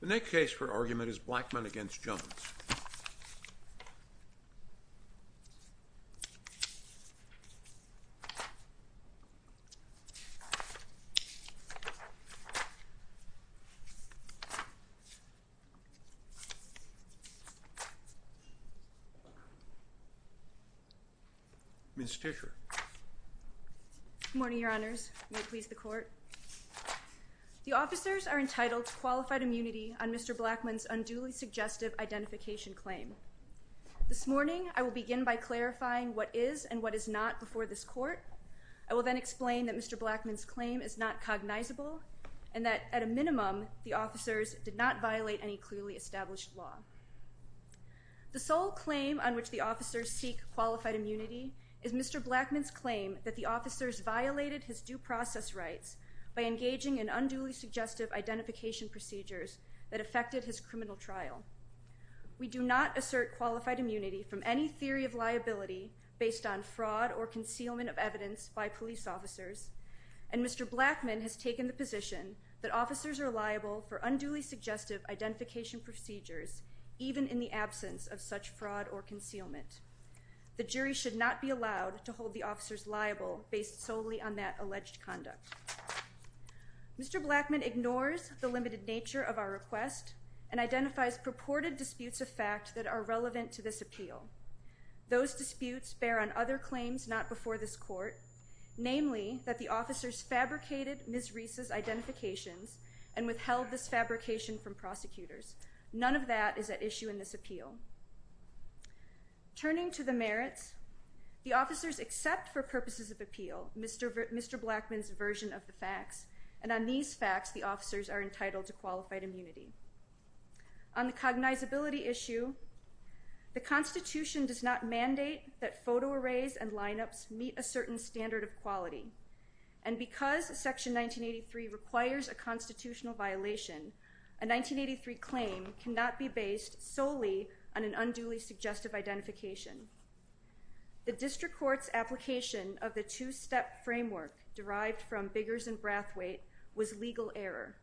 The next case for argument is Blackmon v. Jones. Ms. Tisher. Good morning, your honors. May it please the court. The officers are entitled to qualified immunity on Mr. Blackmon's unduly suggestive identification claim. This morning I will begin by clarifying what is and what is not before this court. I will then explain that Mr. Blackmon's claim is not cognizable and that, at a minimum, the officers did not violate any clearly established law. The sole claim on which the officers seek qualified immunity is Mr. Blackmon's claim that the officers violated his due process rights by engaging in unduly suggestive identification procedures that affected his criminal trial. We do not assert qualified immunity from any theory of liability based on fraud or concealment of evidence by police officers, and Mr. Blackmon has taken the position that officers are liable for unduly suggestive identification procedures even in the absence of such fraud or concealment. The jury should not be allowed to hold the officers liable based solely on that alleged conduct. Mr. Blackmon ignores the limited nature of our request and identifies purported disputes of fact that are relevant to this appeal. Those disputes bear on other claims not before this court, namely that the officers fabricated Ms. Reese's identifications and withheld this fabrication from prosecutors. None of that is at issue in this appeal. Turning to the merits, the officers accept for purposes of appeal Mr. Blackmon's version of the facts, and on these facts the officers are entitled to qualified immunity. On the cognizability issue, the Constitution does not mandate that photo arrays and lineups meet a certain standard of quality, and because Section 1983 requires a constitutional violation, a 1983 claim cannot be based solely on an unduly suggestive identification. The District Court's application of the two-step framework derived from Biggers and Brathwaite was legal error.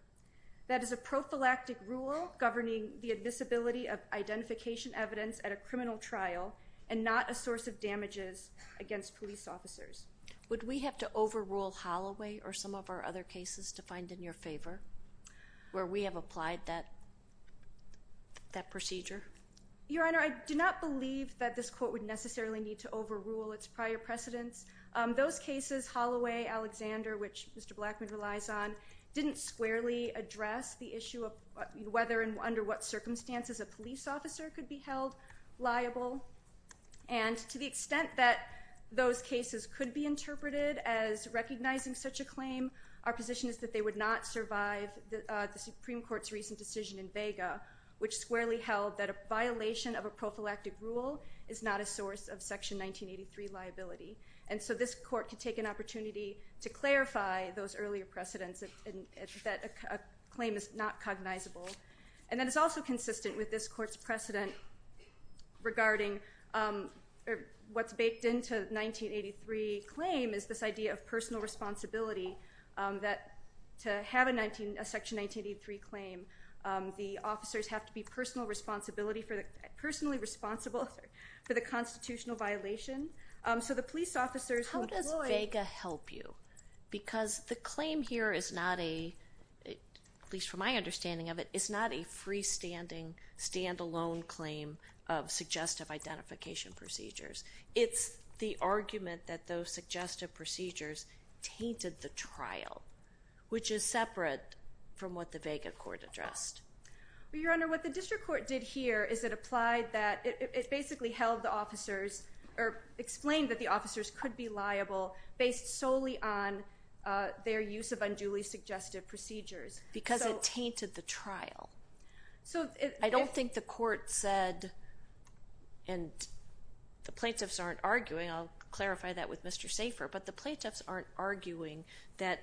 That is a prophylactic rule governing the admissibility of identification evidence at a criminal trial and not a source of damages against police officers. Would we have to overrule Holloway or some of our other cases to find in your favor? Where we have applied that procedure? Your Honor, I do not believe that this court would necessarily need to overrule its prior precedents. Those cases, Holloway, Alexander, which Mr. Blackmon relies on, didn't squarely address the issue of whether and under what circumstances a police officer could be held liable, and to the extent that those cases could be interpreted as recognizing such a claim, our position is that they would not survive the Supreme Court's recent decision in Vega, which squarely held that a violation of a prophylactic rule is not a source of Section 1983 liability. And so this court could take an opportunity to clarify those earlier precedents that a claim is not cognizable. And then it's also consistent with this court's precedent regarding what's baked into the 1983 claim is this idea of personal responsibility, that to have a Section 1983 claim, the officers have to be personally responsible for the constitutional violation. So the police officers who employ- How does Vega help you? Because the claim here is not a, at least from my understanding of it, is not a freestanding, standalone claim of suggestive identification procedures. It's the argument that those suggestive procedures tainted the trial, which is separate from what the Vega court addressed. Well, Your Honor, what the district court did here is it applied that- it basically held the officers, or explained that the officers could be liable based solely on their use of unduly suggestive procedures. Because it tainted the trial. I don't think the court said, and the plaintiffs aren't arguing, I'll clarify that with Mr. Safer, but the plaintiffs aren't arguing that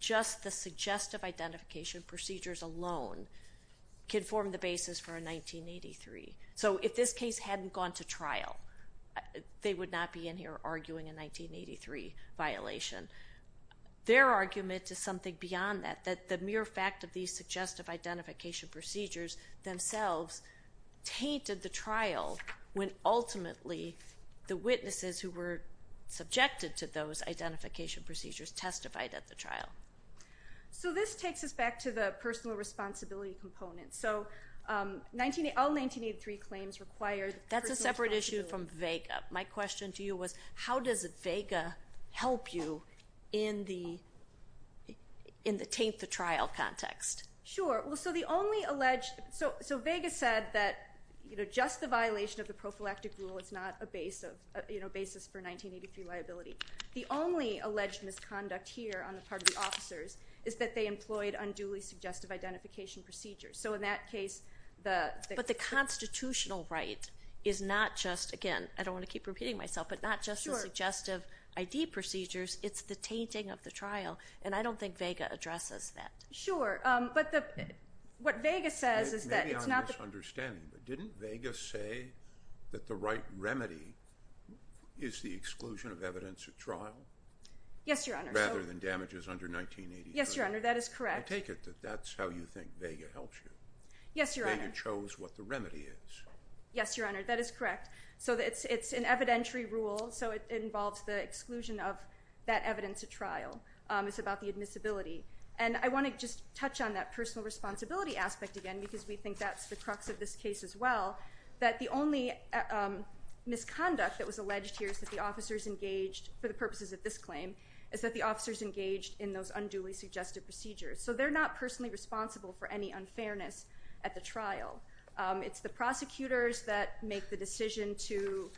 just the suggestive identification procedures alone could form the basis for a 1983. So if this case hadn't gone to trial, they would not be in here arguing a 1983 violation. Their argument is something beyond that, that the mere fact of these suggestive identification procedures themselves tainted the trial when ultimately the witnesses who were subjected to those identification procedures testified at the trial. So this takes us back to the personal responsibility component. So all 1983 claims required personal responsibility. That's a separate issue from Vega. My question to you was, how does Vega help you in the taint the trial context? Sure. So Vega said that just the violation of the prophylactic rule is not a basis for 1983 liability. The only alleged misconduct here on the part of the officers is that they employed unduly suggestive identification procedures. So in that case- But the constitutional right is not just, again, I don't want to keep repeating myself, but not just the suggestive ID procedures. It's the tainting of the trial, and I don't think Vega addresses that. Sure, but what Vega says is that it's not- Maybe I'm misunderstanding, but didn't Vega say that the right remedy is the exclusion of evidence at trial? Yes, Your Honor. Rather than damages under 1983. Yes, Your Honor, that is correct. You take it that that's how you think Vega helps you? Yes, Your Honor. Vega chose what the remedy is. Yes, Your Honor, that is correct. So it's an evidentiary rule, so it involves the exclusion of that evidence at trial. It's about the admissibility. And I want to just touch on that personal responsibility aspect again because we think that's the crux of this case as well, that the only misconduct that was alleged here is that the officers engaged, for the purposes of this claim, is that the officers engaged in those unduly suggestive procedures. So they're not personally responsible for any unfairness at the trial. It's the prosecutors that make the decision to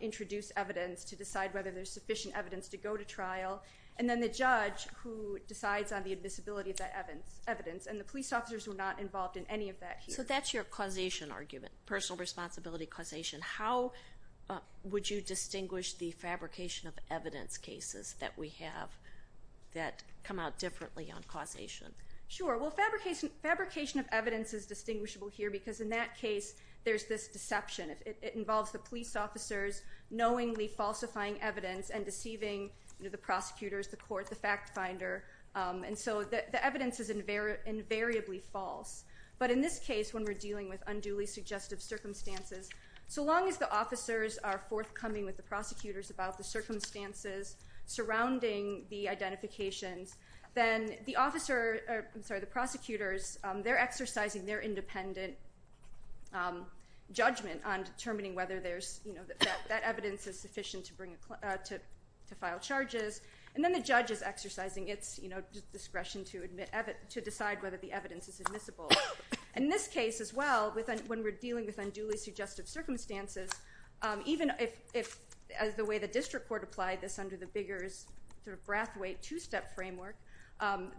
introduce evidence, to decide whether there's sufficient evidence to go to trial, and then the judge who decides on the admissibility of that evidence, and the police officers were not involved in any of that here. So that's your causation argument, personal responsibility causation. How would you distinguish the fabrication of evidence cases that we have that come out differently on causation? Sure. Well, fabrication of evidence is distinguishable here because in that case there's this deception. It involves the police officers knowingly falsifying evidence and deceiving the prosecutors, the court, the fact finder. And so the evidence is invariably false. But in this case, when we're dealing with unduly suggestive circumstances, so long as the officers are forthcoming with the prosecutors about the circumstances surrounding the identifications, then the prosecutors, they're exercising their independent judgment on determining whether that evidence is sufficient to file charges, and then the judge is exercising its discretion to decide whether the evidence is admissible. In this case as well, when we're dealing with unduly suggestive circumstances, even as the way the district court applied this under the bigger sort of Brathwaite two-step framework,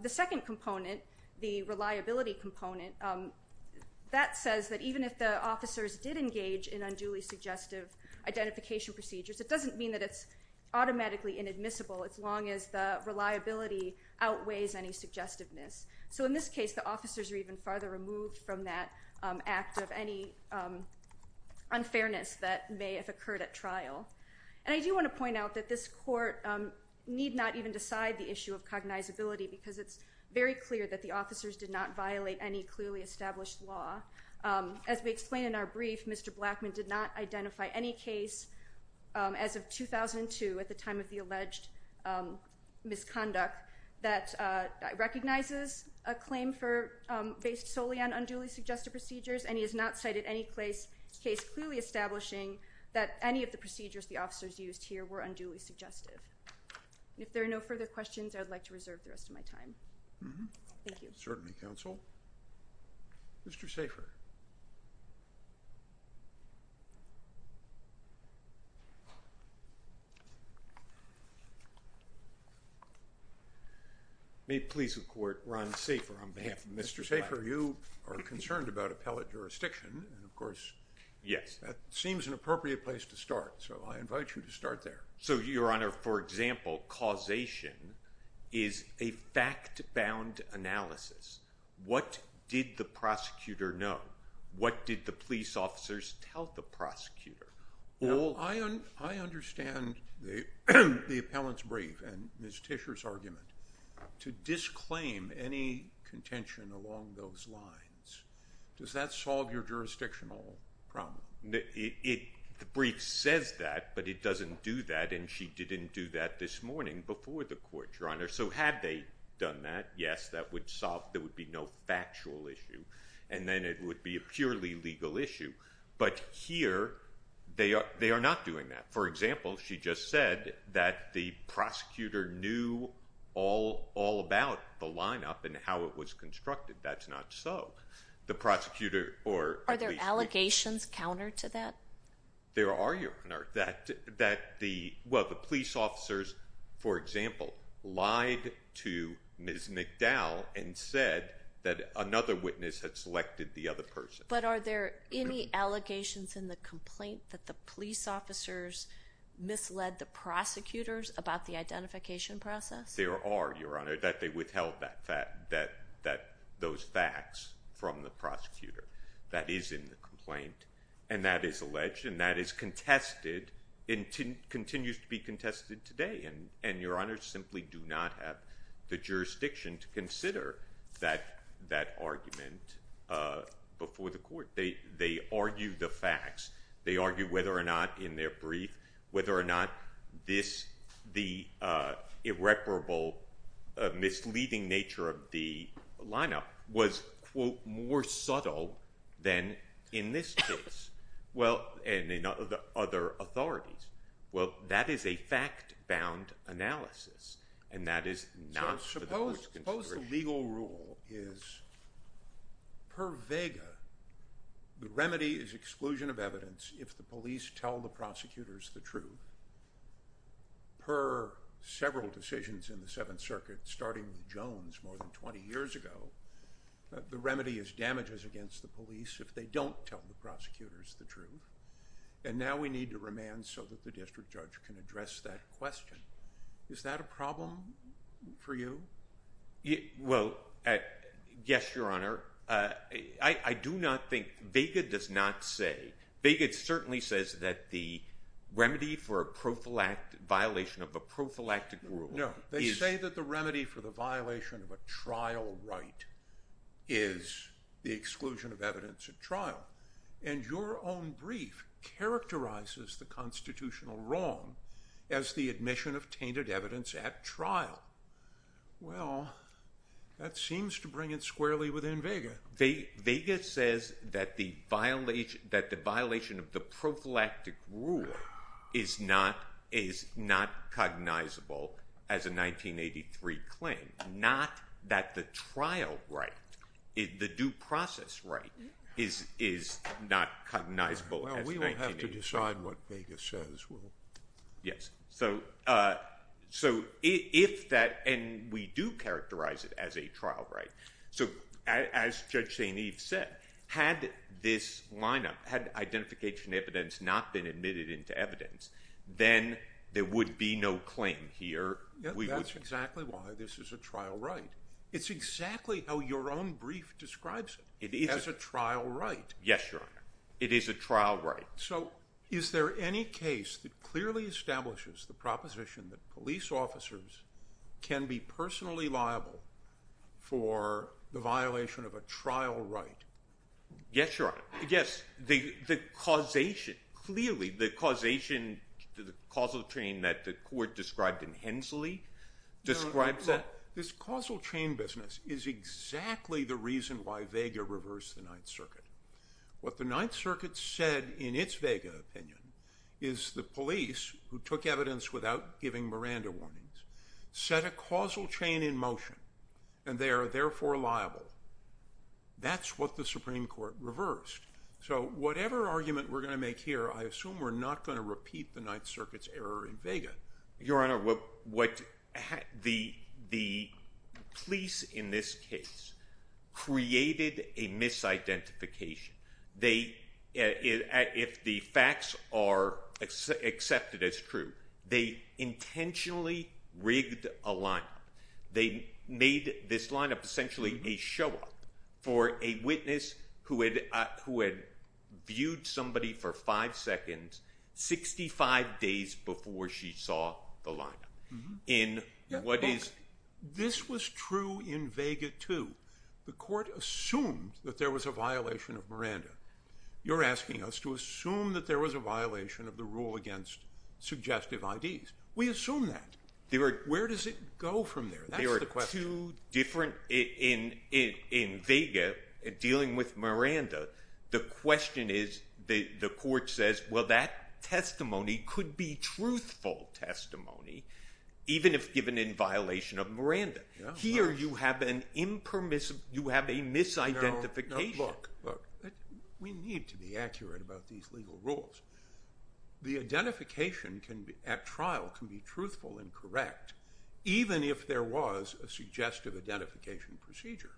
the second component, the reliability component, that says that even if the officers did engage in unduly suggestive identification procedures, it doesn't mean that it's automatically inadmissible as long as the reliability outweighs any suggestiveness. So in this case, the officers are even farther removed from that act because of any unfairness that may have occurred at trial. And I do want to point out that this court need not even decide the issue of cognizability because it's very clear that the officers did not violate any clearly established law. As we explained in our brief, Mr. Blackman did not identify any case as of 2002 at the time of the alleged misconduct that recognizes a claim for based solely on unduly suggestive procedures, and he has not cited any case clearly establishing that any of the procedures the officers used here were unduly suggestive. If there are no further questions, I would like to reserve the rest of my time. Thank you. Certainly, counsel. Mr. Safer. May it please the court, Ron Safer on behalf of Mr. Blackman. Mr. Safer, you are concerned about appellate jurisdiction. Of course, that seems an appropriate place to start, so I invite you to start there. So, Your Honor, for example, causation is a fact-bound analysis. What did the prosecutor know? What did the police officers tell the prosecutor? I understand the appellant's brief and Ms. Tischer's argument. To disclaim any contention along those lines, does that solve your jurisdictional problem? The brief says that, but it doesn't do that, and she didn't do that this morning before the court, Your Honor. So had they done that, yes, that would solve there would be no factual issue, and then it would be a purely legal issue. But here they are not doing that. For example, she just said that the prosecutor knew all about the lineup and how it was constructed. That's not so. Are there allegations counter to that? There are, Your Honor. Well, the police officers, for example, lied to Ms. McDowell and said that another witness had selected the other person. But are there any allegations in the complaint that the police officers misled the prosecutors about the identification process? There are, Your Honor, that they withheld those facts from the prosecutor. That is in the complaint, and that is alleged and that is contested and continues to be contested today. And, Your Honor, simply do not have the jurisdiction to consider that argument before the They argue the facts. They argue whether or not in their brief, whether or not this, the irreparable misleading nature of the lineup was, quote, more subtle than in this case. Well, and in other authorities. Well, that is a fact-bound analysis, and that is not for the courts to consider. Suppose the legal rule is per vega, the remedy is exclusion of evidence if the police tell the prosecutors the truth. Per several decisions in the Seventh Circuit, starting with Jones more than 20 years ago, the remedy is damages against the police if they don't tell the prosecutors the truth. And now we need to remand so that the district judge can address that question. Is that a problem for you? Well, yes, Your Honor. I do not think, vega does not say, vega certainly says that the remedy for a prophylactic, violation of a prophylactic rule. No, they say that the remedy for the violation of a trial right is the exclusion of evidence at trial. And your own brief characterizes the constitutional wrong as the admission of tainted evidence at trial. Well, that seems to bring it squarely within vega. Vega says that the violation, that the violation of the prophylactic rule is not, is not cognizable as a 1983 claim. Not that the trial right, the due process right, is not cognizable as 1983. Well, we will have to decide what vega says. Yes. So if that, and we do characterize it as a trial right. So as Judge St. Eve said, had this lineup, had identification evidence not been admitted into evidence, then there would be no claim here. That's exactly why this is a trial right. It's exactly how your own brief describes it. It is a trial right. Yes, Your Honor. It is a trial right. So is there any case that clearly establishes the proposition that police officers can be personally liable for the violation of a trial right? Yes, Your Honor. Yes, the causation, clearly the causation, the causal chain that the court described in Hensley describes that. This causal chain business is exactly the reason why vega reversed the Ninth Circuit. What the Ninth Circuit said in its vega opinion is the police, who took evidence without giving Miranda warnings, set a causal chain in motion and they are therefore liable. That's what the Supreme Court reversed. So whatever argument we're going to make here, I assume we're not going to repeat the Ninth Circuit's error in vega. Your Honor, what the police in this case created a misidentification. If the facts are accepted as true, they intentionally rigged a lineup. They made this lineup essentially a show up for a witness who had, who had viewed somebody for five seconds, 65 days before she saw the lineup. This was true in vega too. The court assumed that there was a violation of Miranda. You're asking us to assume that there was a violation of the rule against suggestive IDs. We assume that. Where does it go from there? There are two different in vega dealing with Miranda. The question is the court says, well, that testimony could be truthful testimony, even if given in violation of Miranda. Here you have an impermissible, you have a misidentification. We need to be accurate about these legal rules. The identification at trial can be truthful and correct, even if there was a suggestive identification procedure.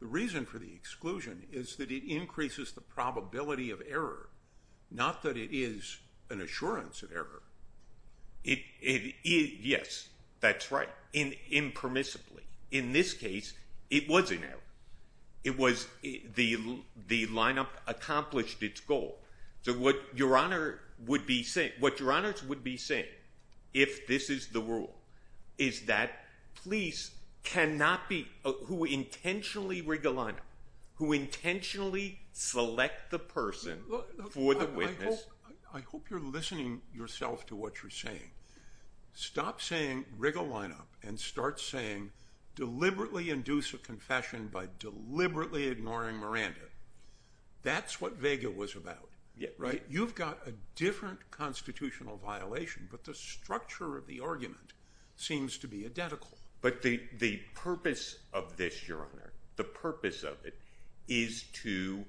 The reason for the exclusion is that it increases the probability of error, not that it is an assurance of error. Yes, that's right. Impermissibly. In this case, it was an error. The lineup accomplished its goal. So what your honor would be saying, what your honors would be saying if this is the rule is that police cannot be who intentionally wriggle on, who intentionally select the person for the witness. I hope you're listening yourself to what you're saying. Stop saying wriggle lineup and start saying deliberately induce a confession by deliberately ignoring Miranda. That's what Vega was about, right? You've got a different constitutional violation, but the structure of the argument seems to be identical, but the, the purpose of this, your honor, the purpose of it is to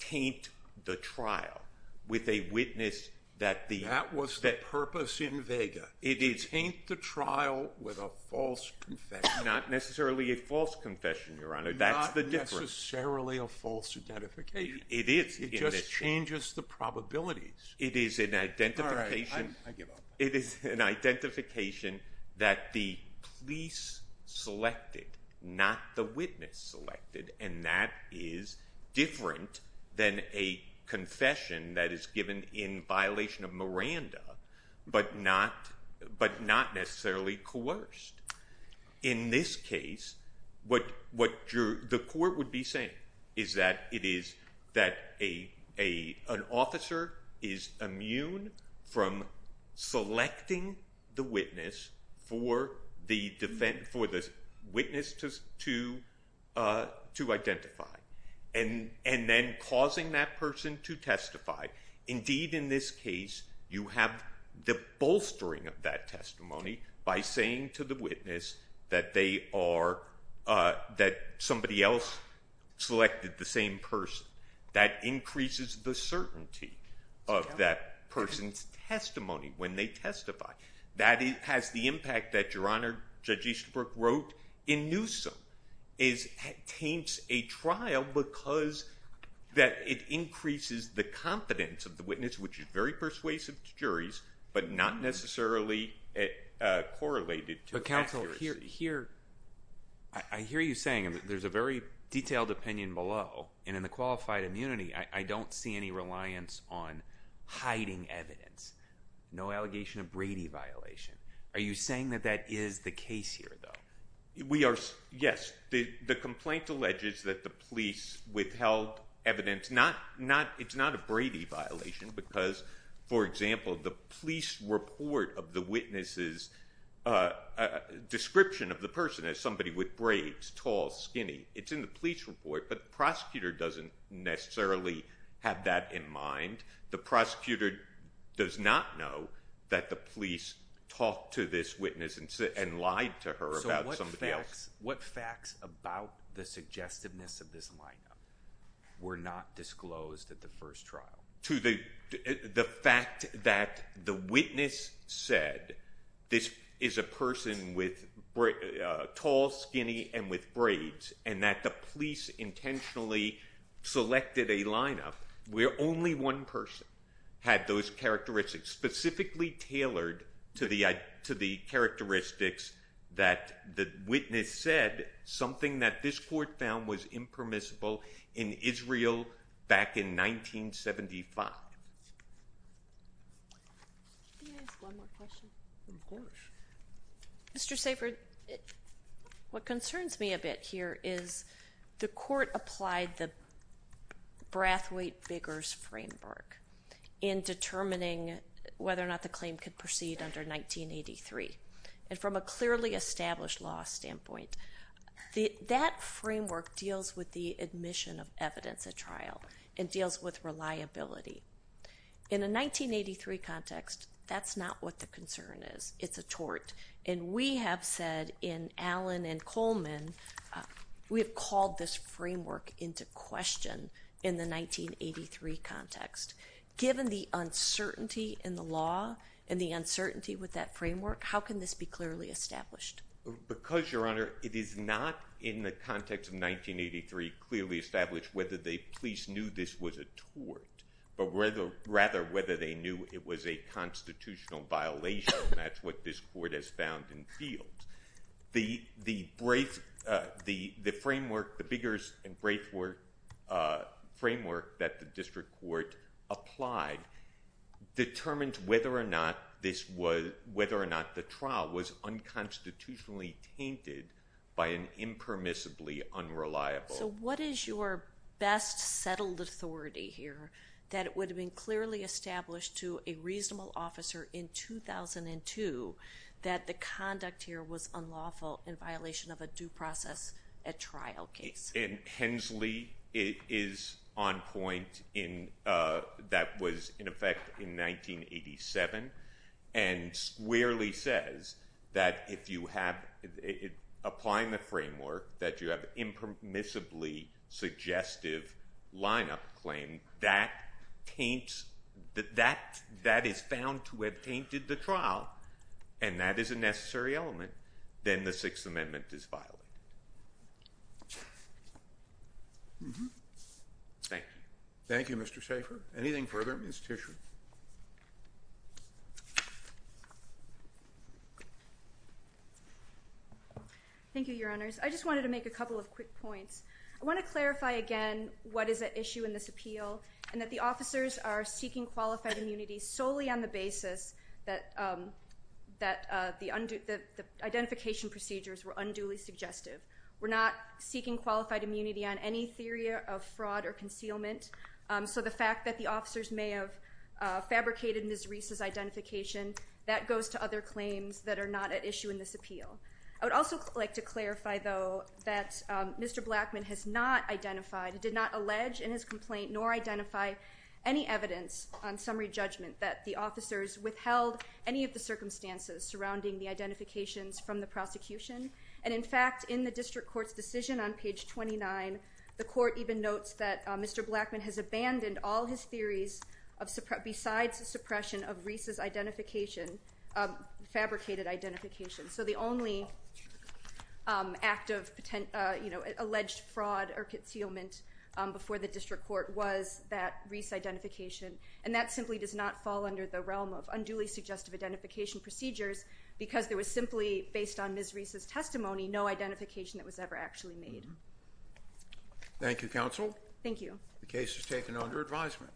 taint the trial with a witness that the, that was the purpose in Vega. It is, ain't the trial with a false confession, not necessarily a false confession, your honor. Not necessarily a false identification. It just changes the probabilities. It is an identification. I give up. It is an identification that the police selected, not the witness selected. And that is different than a confession that is given in violation of Miranda, but not, but not necessarily coerced. In this case, what, what you're, the court would be saying is that it is that a, a, an officer is immune from selecting the witness for the defense for this witness to, to, uh, to identify and, and then causing that person to testify. Indeed, in this case, you have the bolstering of that testimony by saying to the witness that they are, uh, that somebody else selected the same person that increases the certainty of that person's testimony. When they testify, that has the impact that your honor judge Easterbrook wrote in Newsome is taints a trial because that it increases the confidence of the witness, which is very persuasive to juries, but not necessarily, uh, correlated to counsel here. Here. I hear you saying there's a very detailed opinion below and in the qualified immunity, I don't see any reliance on hiding evidence, no allegation of Brady violation. Are you saying that that is the case here though? We are. Yes. The complaint alleges that the police withheld evidence, not, not, it's not a Brady violation because for example, the police report of the witnesses, uh, uh, description of the person as somebody with braids, tall, skinny, it's in the police report, but the prosecutor doesn't necessarily have that in mind. The prosecutor does not know that the police talk to this witness and sit and lied to her about somebody else. What facts about the suggestiveness of this lineup were not disclosed at the first trial to the, the fact that the witness said this is a person with tall, skinny, and with braids, and that the police intentionally selected a lineup where only one person had those characteristics specifically tailored to the, to the characteristics that the witness said something that this court found was impermissible in Israel back in 1975. Can I ask one more question? Of course. Mr. Safer, what concerns me a bit here is the court applied the Brathwaite Biggers framework in determining whether or not the claim could proceed under 1983. And from a clearly established law standpoint, the, that framework deals with the admission of evidence at trial and deals with reliability in a 1983 context. That's not what the concern is. It's a tort. And we have said in Allen and Coleman, we have called this framework into question in the 1983 context, given the uncertainty in the law and the uncertainty with that framework, how can this be clearly established? Because Your Honor, it is not in the context of 1983 clearly established whether the police knew this was a tort, but rather, rather whether they knew it was a constitutional violation. And that's what this court has found in field. The, the brave, uh, the, the framework, the Biggers and Brathwaite, uh, framework that the district court applied determined whether or not this was, was unconstitutionally tainted by an impermissibly unreliable. So what is your best settled authority here that it would have been clearly established to a reasonable officer in 2002, that the conduct here was unlawful in violation of a due process at trial case. And Hensley is on point in, uh, that was in effect in 1987 and squarely says, that if you have applying the framework, that you have impermissibly suggestive lineup claim that paints that, that, that is found to have tainted the trial and that is a necessary element. Then the sixth amendment is violent. Thank you. Thank you, Mr. Schaefer. Anything further? Ms. Tisher. Thank you, your honors. I just wanted to make a couple of quick points. I want to clarify again, what is the issue in this appeal and that the officers are seeking qualified immunity solely on the basis that, um, that, uh, the undo, the, the identification procedures were unduly suggestive. We're not seeking qualified immunity on any theory of fraud or concealment. Um, so the fact that the officers may have, uh, fabricated Ms. Reese's identification that goes to other claims that are not at issue in this appeal. I would also like to clarify though, that, um, Mr. Blackman has not identified, did not allege in his complaint nor identify any evidence on summary judgment that the officers withheld any of the circumstances surrounding the identifications from the prosecution. And in fact, in the district court's decision on page 29, the court even notes that Mr. Blackman has abandoned all his theories of separate besides suppression of Reese's identification, um, fabricated identification. So the only, um, active, uh, you know, alleged fraud or concealment, um, before the district court was that Reese identification. And that simply does not fall under the realm of unduly suggestive identification procedures because there was simply based on Ms. Reese's testimony, no identification that was ever actually made. Thank you. Counsel. Thank you. The case is taken under advisement.